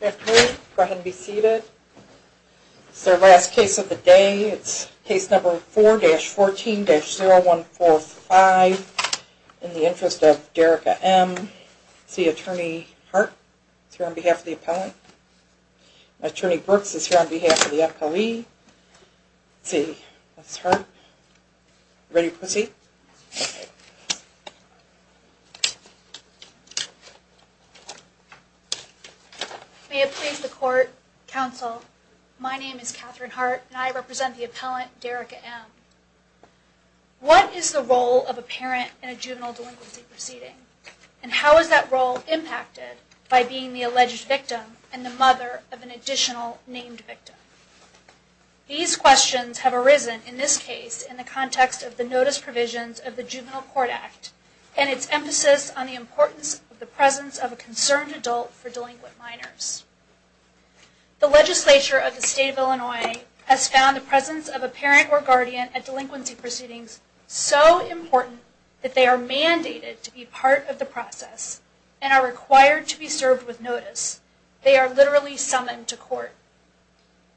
Afternoon, go ahead and be seated. This is our last case of the day. It's case number 4-14-0145 in the interest of Derricka M. Let's see, Attorney Hart is here on behalf of the appellant. Attorney Brooks is here on behalf of the appellee. Let's see, that's Hart. Ready to proceed? May it please the Court, Counsel, my name is Katherine Hart and I represent the appellant Derricka M. What is the role of a parent in a juvenile delinquency proceeding? And how is that role impacted by being the alleged victim and the mother of an additional named victim? These questions have arisen in this case in the context of the notice provisions of the Juvenile Court Act and its emphasis on the importance of the presence of a concerned adult for delinquent minors. The legislature of the state of Illinois has found the presence of a parent or guardian at delinquency proceedings so important that they are mandated to be part of the process and are required to be served with notice. They are literally summoned to court.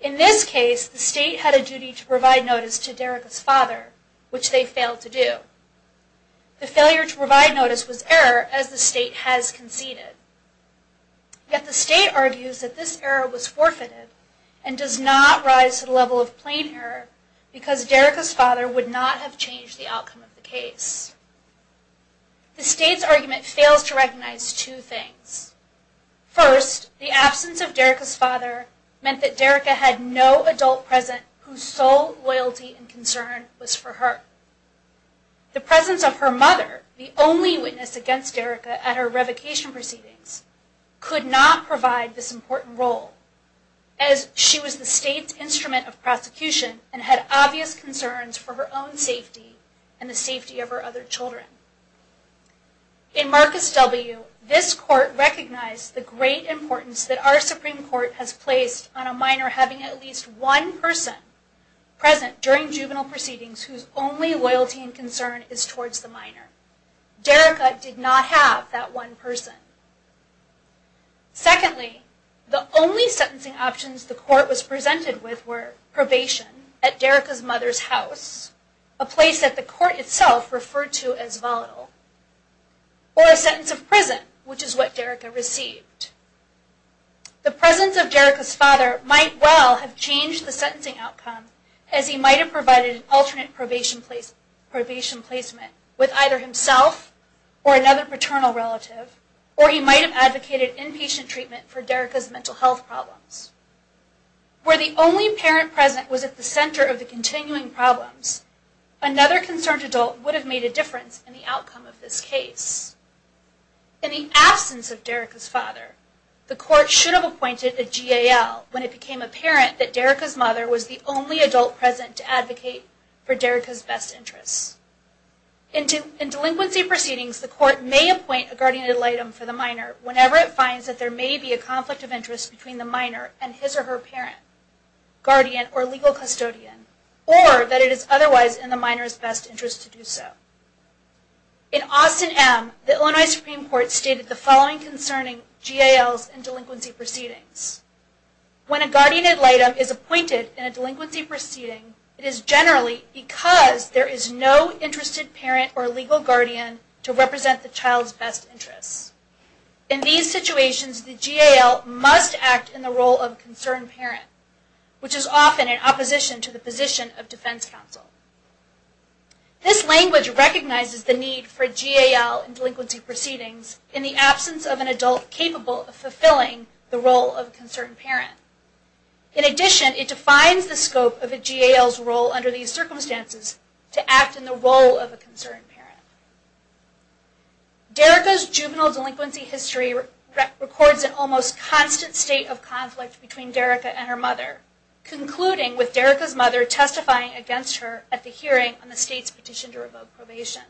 In this case, the state had a duty to provide notice to Derricka's father, which they failed to do. The failure to provide notice was error, as the state has conceded. Yet the state argues that this error was forfeited and does not rise to the level of plain error because Derricka's father would not have changed the outcome of the case. The state's argument fails to recognize two things. First, the absence of Derricka's father meant that Derricka had no adult present whose sole loyalty and concern was for her. The presence of her mother, the only witness against Derricka at her revocation proceedings, could not provide this important role, as she was the state's instrument of prosecution and had obvious concerns for her own safety and the safety of her other children. In Marcus W., this court recognized the great importance that our Supreme Court has placed on a minor having at least one person present during juvenile proceedings whose only loyalty and concern is towards the minor. Derricka did not have that one person. Secondly, the only sentencing options the court was presented with were probation at Derricka's mother's house, a place that the court itself referred to as volatile, or a sentence of prison, which is what Derricka received. The presence of Derricka's father might well have changed the sentencing outcome, as he might have provided an alternate probation placement with either himself or another paternal relative, or he might have advocated inpatient treatment for Derricka's mental health problems. Were the only parent present was at the center of the continuing problems, another concerned adult would have made a difference in the outcome of this case. In the absence of Derricka's father, the court should have appointed a GAL when it became apparent that Derricka's mother was the only adult present to advocate for Derricka's best interests. In delinquency proceedings, the court may appoint a guardian ad litem for the minor whenever it finds that there may be a conflict of interest between the minor and his or her parent, guardian, or legal custodian, or that it is otherwise in the minor's best interest to do so. In Austin M., the Illinois Supreme Court stated the following concerning GALs in delinquency proceedings. When a guardian ad litem is appointed in a delinquency proceeding, it is generally because there is no interested parent or legal guardian to represent the child's best interests. In these situations, the GAL must act in the role of concerned parent, which is often in opposition to the position of defense counsel. This language recognizes the need for a GAL in delinquency proceedings in the absence of an adult capable of fulfilling the role of a concerned parent. In addition, it defines the scope of a GAL's role under these circumstances to act in the role of a concerned parent. Derricka's juvenile delinquency history records an almost constant state of conflict between Derricka and her mother, concluding with Derricka's mother testifying against her at the hearing on the state's petition to revoke probation.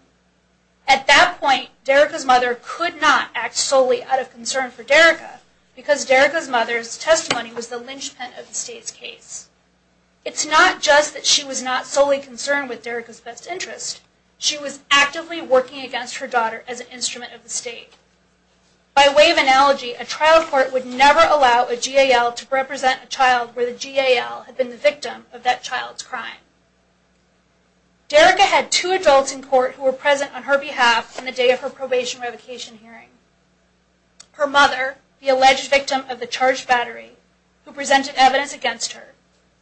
At that point, Derricka's mother could not act solely out of concern for Derricka, because Derricka's mother's testimony was the linchpin of the state's case. It's not just that she was not solely concerned with Derricka's best interests, she was actively working against her daughter as an instrument of the state. By way of analogy, a trial court would never allow a GAL to represent a child where the GAL had been the victim of that child's crime. Derricka had two adults in court who were present on her behalf on the day of her probation revocation hearing. Her mother, the alleged victim of the charged battery, who presented evidence against her,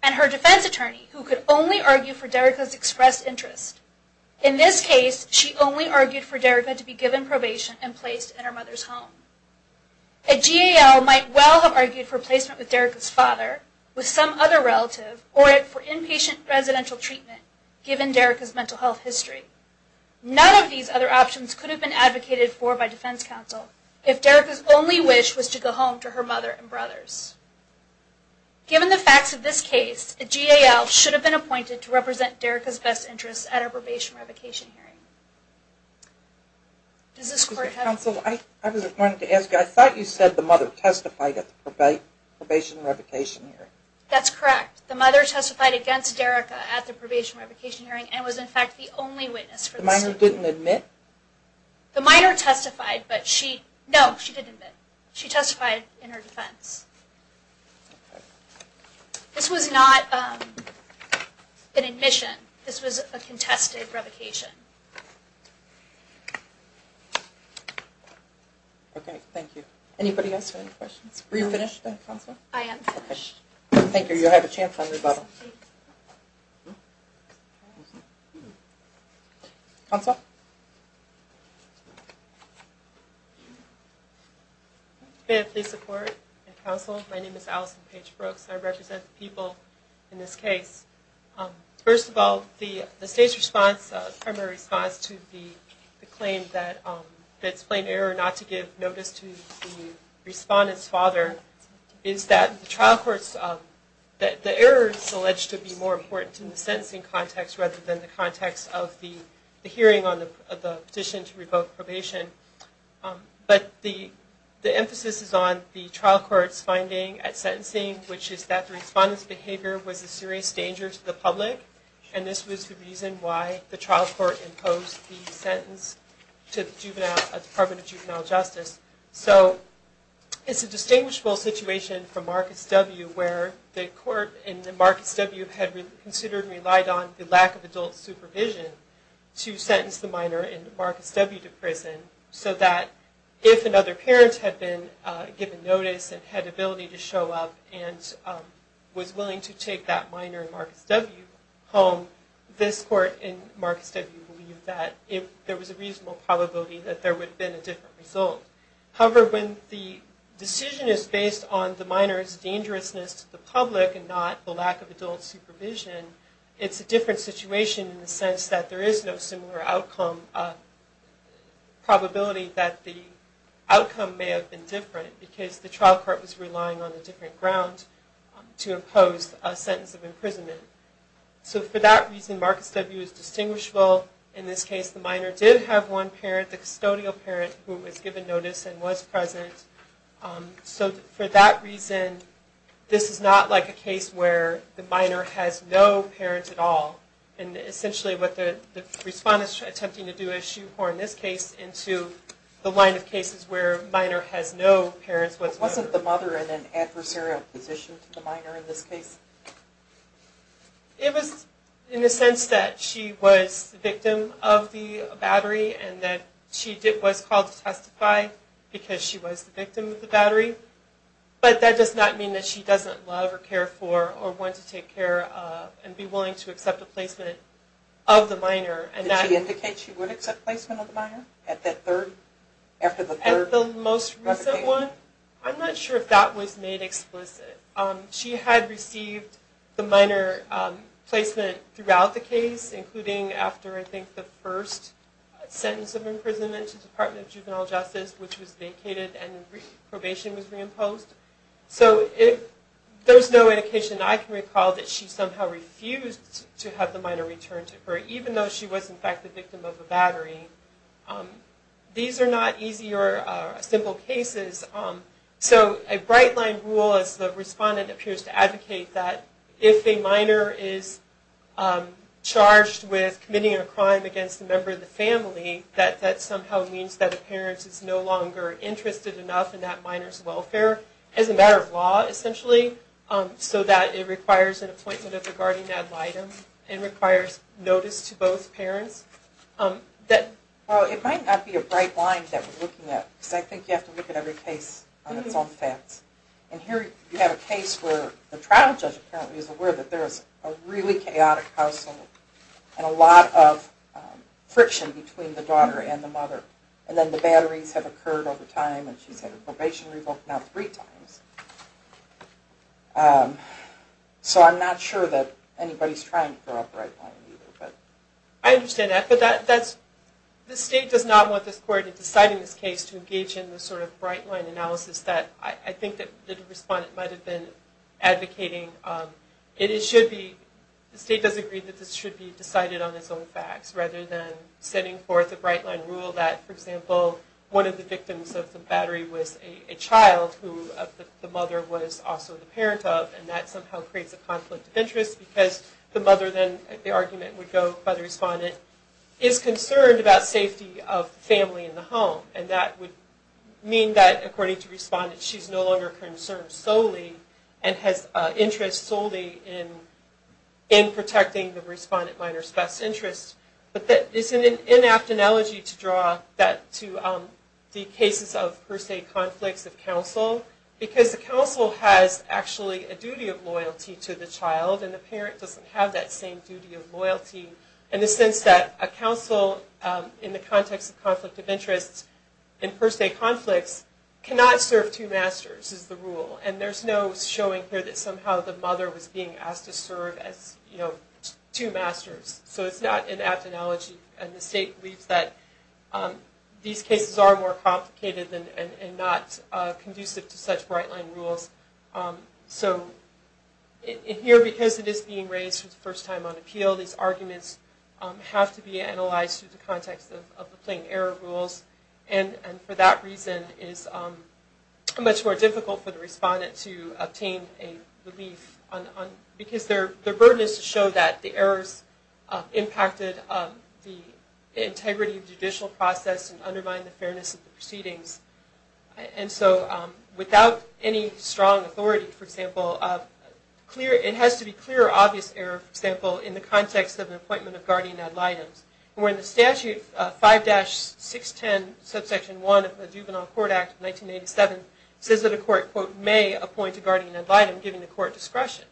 and her defense attorney, who could only argue for Derricka's expressed interest. In this case, she only argued for Derricka to be given probation and placed in her mother's home. A GAL might well have argued for placement with Derricka's father, with some other relative, or for inpatient residential treatment, given Derricka's mental health history. None of these other options could have been advocated for by defense counsel if Derricka's only wish was to go home to her mother and brothers. Given the facts of this case, a GAL should have been appointed to represent Derricka's best interests at her probation revocation hearing. Does this court have... Counsel, I was going to ask you, I thought you said the mother testified at the probation revocation hearing. That's correct. The mother testified against Derricka at the probation revocation hearing and was in fact the only witness for the suit. The minor didn't admit? The minor testified, but she, no, she didn't admit. She testified in her defense. This was not an admission. This was a contested revocation. Okay, thank you. Anybody else have any questions? Are you finished, Counsel? I am finished. Thank you. You have a chance on rebuttal. Counsel? May I please support the counsel? My name is Allison Paige Brooks. I represent the people in this case. First of all, the state's response, primary response to the claim that it's plain error not to give notice to the respondent's father is that the trial court's, the error is alleged to be more important in the sentencing context rather than the context of the hearing on the petition to revoke probation. But the emphasis is on the trial court's finding at sentencing, which is that the respondent's behavior was a serious danger to the public, and this was the reason why the trial court imposed the sentence to the Department of Juvenile Justice. So it's a distinguishable situation from Marcus W. where the court in Marcus W. had considered and relied on the lack of adult supervision to sentence the minor in Marcus W. to prison so that if another parent had been given notice and had the ability to show up and was willing to take that minor in Marcus W. home, this court in Marcus W. believed that if there was a reasonable probability that there would have been a different result. However, when the decision is based on the minor's dangerousness to the public and not the lack of adult supervision, it's a different situation in the sense that there is no similar outcome, probability that the outcome may have been different because the trial court was relying on a different ground to impose a sentence of imprisonment. So for that reason, Marcus W. is distinguishable. In this case, the minor did have one parent, the custodial parent, who was given notice and was present. So for that reason, this is not like a case where the minor has no parents at all. And essentially what the respondent is attempting to do is shoehorn this case into the line of cases where the minor has no parents. Wasn't the mother in an adversarial position to the minor in this case? It was in the sense that she was the victim of the battery and that she was called to testify because she was the victim of the battery. But that does not mean that she doesn't love or care for or want to take care of and be willing to accept a placement of the minor. Did she indicate she would accept placement of the minor? At the most recent one? I'm not sure if that was made explicit. She had received the minor placement throughout the case, including after I think the first sentence of imprisonment to the Department of Juvenile Justice, which was vacated and probation was reimposed. So there's no indication I can recall that she somehow refused to have the minor returned to her, even though she was in fact the victim of a battery. These are not easy or simple cases. So a bright line rule, as the respondent appears to advocate, that if a minor is charged with committing a crime against a member of the family, that that somehow means that the parent is no longer interested enough in that minor's welfare as a matter of law, essentially, so that it requires an appointment at the guardian ad litem and requires notice to both parents. Well, it might not be a bright line that we're looking at, because I think you have to look at every case on its own facts. And here you have a case where the trial judge apparently is aware that there is a really chaotic household and a lot of friction between the daughter and the mother. And then the batteries have occurred over time and she's had a probation revoke now three times. So I'm not sure that anybody's trying for a bright line either. I understand that, but the state does not want this court in deciding this case to engage in the sort of bright line analysis that I think that the respondent might have been advocating. The state does agree that this should be decided on its own facts, rather than setting forth a bright line rule that, for example, one of the victims of the battery was a child who the mother was also the parent of, and that somehow creates a conflict of interest, because the mother then, the argument would go by the respondent, is concerned about safety of the family in the home. And that would mean that, according to the respondent, she's no longer concerned solely and has interest solely in protecting the respondent minor's best interest. But that is an inapt analogy to draw that to the cases of per se conflicts of counsel, because the counsel has actually a duty of loyalty to the child and the parent doesn't have that same duty of loyalty in the sense that a counsel, in the context of conflict of interest, in per se conflicts, cannot serve two masters is the rule. And there's no showing here that somehow the mother was being asked to serve as, you know, two masters. So it's not an apt analogy. And the state believes that these cases are more complicated and not conducive to such bright line rules. So here, because it is being raised for the first time on appeal, these arguments have to be analyzed through the context of the plain error rules. And for that reason, it is much more difficult for the respondent to obtain a relief, because their burden is to show that the errors impacted the integrity of the judicial process and undermined the fairness of the proceedings. And so without any strong authority, for example, it has to be clear or obvious error, for example, in the context of an appointment of guardian ad litem. And when the statute 5-610, subsection 1 of the Juvenile Court Act of 1987, says that a court, quote, may appoint a guardian ad litem, giving the court discretion.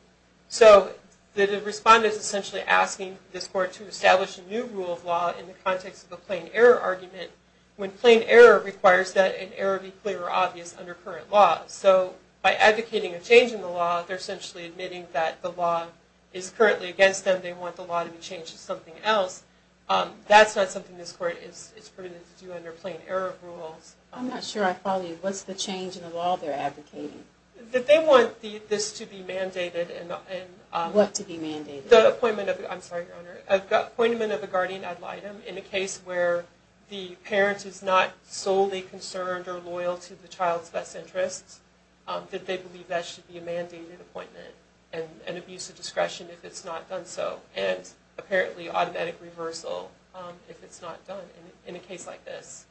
So the respondent is essentially asking this court to establish a new rule of law in the context of a plain error argument, when plain error requires that an error be clear or obvious under current law. So by advocating a change in the law, they're essentially admitting that the law is currently against them, they want the law to be changed to something else. That's not something this court is permitted to do under plain error rules. I'm not sure I follow you. What's the change in the law they're advocating? That they want this to be mandated. What to be mandated? The appointment of, I'm sorry, Your Honor, appointment of a guardian ad litem, in a case where the parent is not solely concerned or loyal to the child's best interests, that they believe that should be a mandated appointment and abuse of discretion if it's not done so, and apparently automatic reversal if it's not done in a case like this.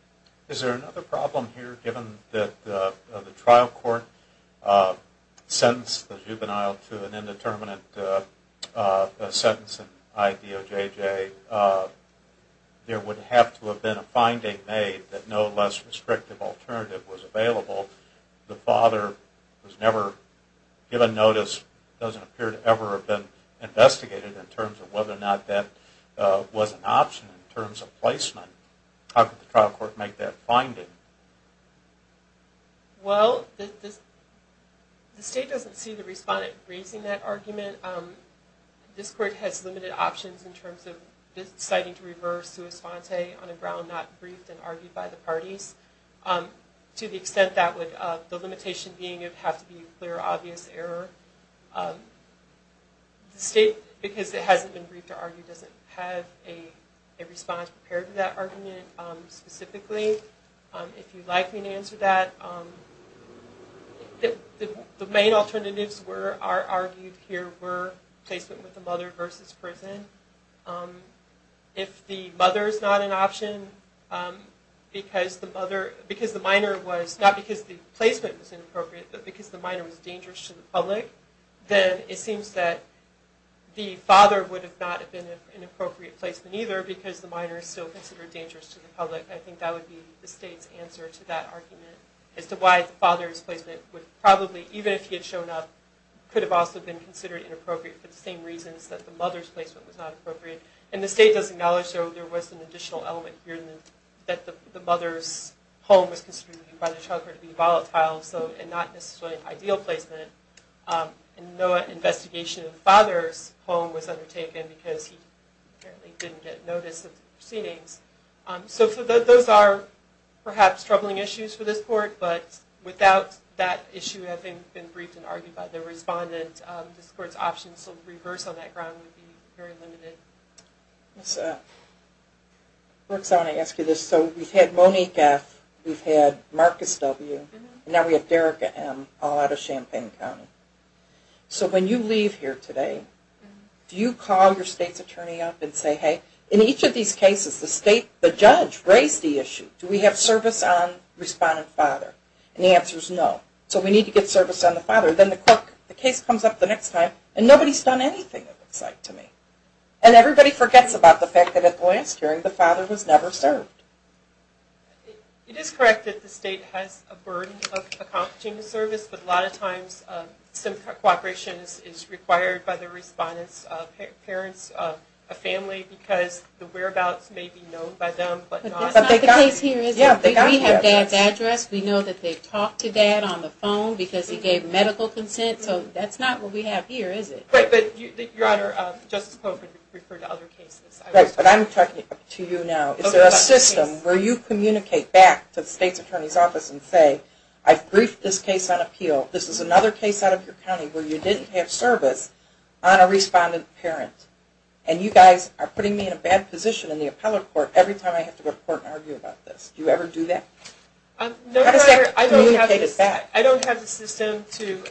Is there another problem here? Given that the trial court sentenced the juvenile to an indeterminate sentence in IDOJJ, there would have to have been a finding made that no less restrictive alternative was available. The father was never given notice, doesn't appear to ever have been investigated, in terms of whether or not that was an option in terms of placement. How could the trial court make that finding? Well, the state doesn't see the respondent raising that argument. This court has limited options in terms of deciding to reverse sua sponte on a ground not briefed and argued by the parties. To the extent that would, the limitation being it would have to be a clear, obvious error. The state, because it hasn't been briefed or argued, doesn't have a response prepared to that argument specifically. If you'd like me to answer that, the main alternatives argued here were placement with the mother versus prison. If the mother is not an option, because the minor was, not because the placement was inappropriate, but because the minor was dangerous to the public, then it seems that the father would have not been an appropriate placement either because the minor is still considered dangerous to the public. I think that would be the state's answer to that argument as to why the father's placement would probably, even if he had shown up, could have also been considered inappropriate for the same reasons that the mother's placement was not appropriate. And the state does acknowledge, though, there was an additional element here that the mother's home was considered by the child court to be volatile and not necessarily an ideal placement. And no investigation of the father's home was undertaken because he apparently didn't get notice of the proceedings. So those are perhaps troubling issues for this court, but without that issue having been briefed and argued by the respondent, this court's options to reverse on that ground would be very limited. Ms. Brooks, I want to ask you this. So we've had Monique F., we've had Marcus W., and now we have Derrick M. all out of Champaign County. So when you leave here today, do you call your state's attorney up and say, hey, in each of these cases the judge raised the issue. Do we have service on respondent father? And the answer is no. So we need to get service on the father. Then the court, the case comes up the next time, and nobody's done anything of the sort to me. And everybody forgets about the fact that at the last hearing the father was never served. It is correct that the state has a burden of accomplishing the service, but a lot of times some cooperation is required by the respondent's parents, a family, because the whereabouts may be known by them but not. But that's not the case here, is it? Yeah. We have dad's address. We know that they've talked to dad on the phone because he gave medical consent. So that's not what we have here, is it? Right. But, Your Honor, Justice Pope would refer to other cases. Right. But I'm talking to you now. Is there a system where you communicate back to the state's attorney's office and say, I've briefed this case on appeal. This is another case out of your county where you didn't have service on a respondent parent. And you guys are putting me in a bad position in the appellate court every time I have to report and argue about this. Do you ever do that? No, Your Honor. How does that communicate it back? I don't have the system to.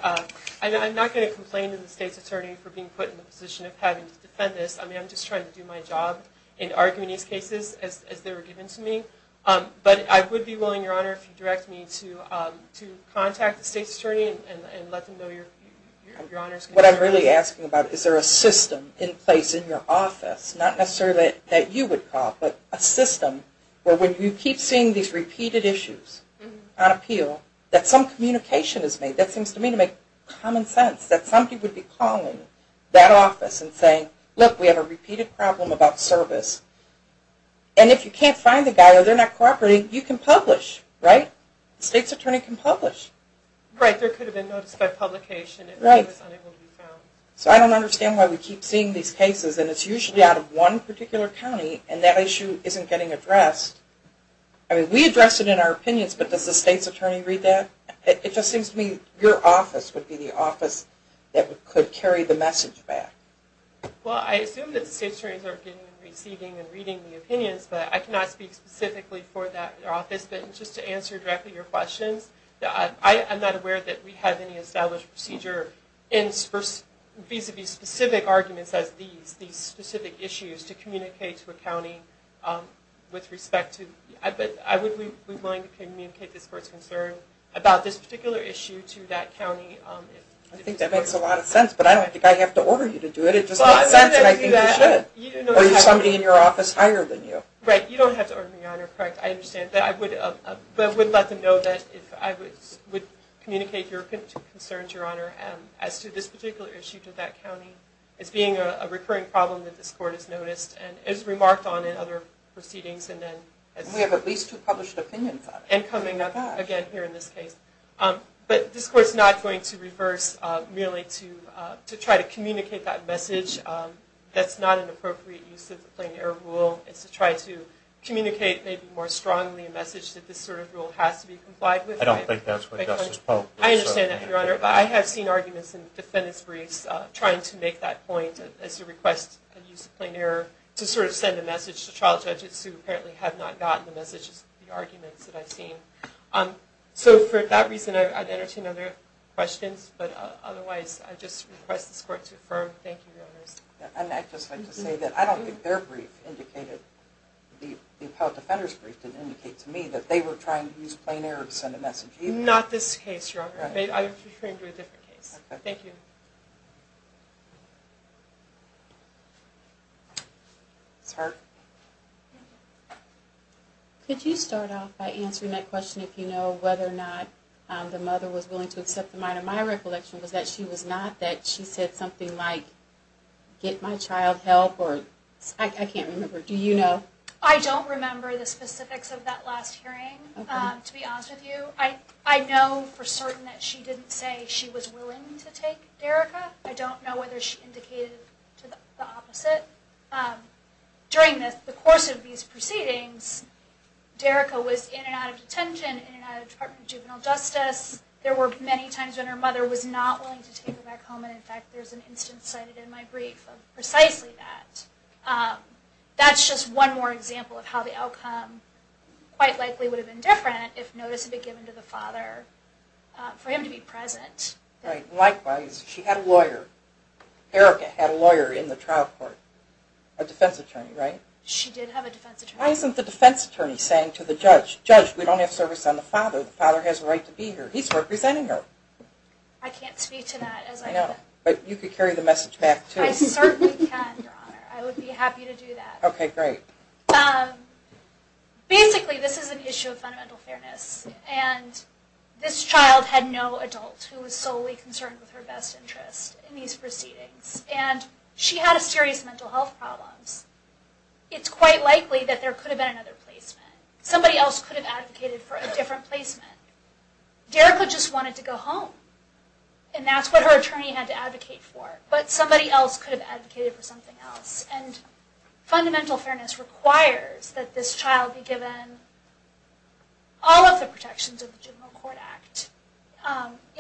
I'm not going to complain to the state's attorney for being put in the position of having to defend this. I mean, I'm just trying to do my job in arguing these cases as they were given to me. But I would be willing, Your Honor, if you direct me to contact the state's attorney and let them know Your Honor is going to do that. What I'm really asking about, is there a system in place in your office, not necessarily that you would call, but a system where when you keep seeing these repeated issues on appeal, that some communication is made. That seems to me to make common sense, that somebody would be calling that office and saying, look, we have a repeated problem about service. And if you can't find the guy or they're not cooperating, you can publish, right? The state's attorney can publish. Right, there could have been notice by publication. Right. So I don't understand why we keep seeing these cases. And it's usually out of one particular county, and that issue isn't getting addressed. I mean, we address it in our opinions, but does the state's attorney read that? It just seems to me your office would be the office that could carry the message back. Well, I assume that the state's attorneys are getting and receiving and reading the opinions, but I cannot speak specifically for that office. Just to answer directly your questions, I'm not aware that we have any established procedure vis-a-vis specific arguments as these, these specific issues to communicate to a county with respect to. But I would be willing to communicate this court's concern about this particular issue to that county. I think that makes a lot of sense, but I don't think I have to order you to do it. It just makes sense, and I think you should. Or there's somebody in your office higher than you. Right, you don't have to order me on, correct? I understand. But I would let them know that I would communicate your concerns, Your Honor, as to this particular issue to that county as being a recurring problem that this court has noticed and has remarked on in other proceedings. We have at least two published opinions on it. And coming up again here in this case. But this court's not going to reverse merely to try to communicate that message. That's not an appropriate use of the plain error rule. It's to try to communicate maybe more strongly a message that this sort of rule has to be complied with. I don't think that's what Justice Polk said. I understand that, Your Honor. But I have seen arguments in defendant's briefs trying to make that point as you request a use of plain error to sort of send a message to trial judges who apparently have not gotten the message of the arguments that I've seen. So for that reason, I'd entertain other questions. But otherwise, I just request this court to affirm. Thank you, Your Honors. And I'd just like to say that I don't think their brief indicated, the appellate defender's brief didn't indicate to me that they were trying to use plain error to send a message either. Not this case, Your Honor. I'm referring to a different case. Thank you. Ms. Hart? Could you start off by answering that question if you know whether or not the mother was willing to accept the minor? My recollection was that she was not. She said something like, get my child help. I can't remember. Do you know? I don't remember the specifics of that last hearing, to be honest with you. I know for certain that she didn't say she was willing to take Derricka. I don't know whether she indicated the opposite. During the course of these proceedings, Derricka was in and out of detention, in and out of Department of Juvenile Justice. There were many times when her mother was not willing to take her back home, and in fact there's an instance cited in my brief of precisely that. That's just one more example of how the outcome quite likely would have been different if notice had been given to the father for him to be present. Right. Likewise, she had a lawyer. Derricka had a lawyer in the trial court. A defense attorney, right? Why isn't the defense attorney saying to the judge, we don't have service on the father. The father has a right to be here. He's representing her. I can't speak to that as I know. But you could carry the message back, too. I certainly can, Your Honor. I would be happy to do that. Okay, great. Basically, this is an issue of fundamental fairness, and this child had no adult who was solely concerned with her best interest in these proceedings, and she had serious mental health problems. It's quite likely that there could have been another placement. Somebody else could have advocated for a different placement. Derricka just wanted to go home, and that's what her attorney had to advocate for. But somebody else could have advocated for something else, and fundamental fairness requires that this child be given all of the protections of the General Court Act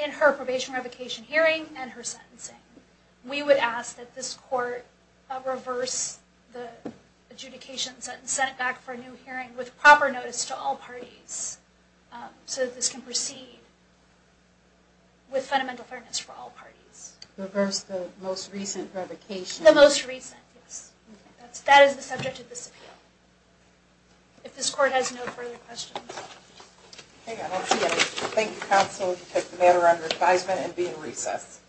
in her probation revocation hearing and her sentencing. We would ask that this court reverse the adjudication sentence, and send it back for a new hearing with proper notice to all parties so that this can proceed with fundamental fairness for all parties. Reverse the most recent revocation? The most recent, yes. That is the subject of this appeal. If this court has no further questions. Okay, I don't see any. Thank you, counsel. You can take the matter under advisement and be in recess.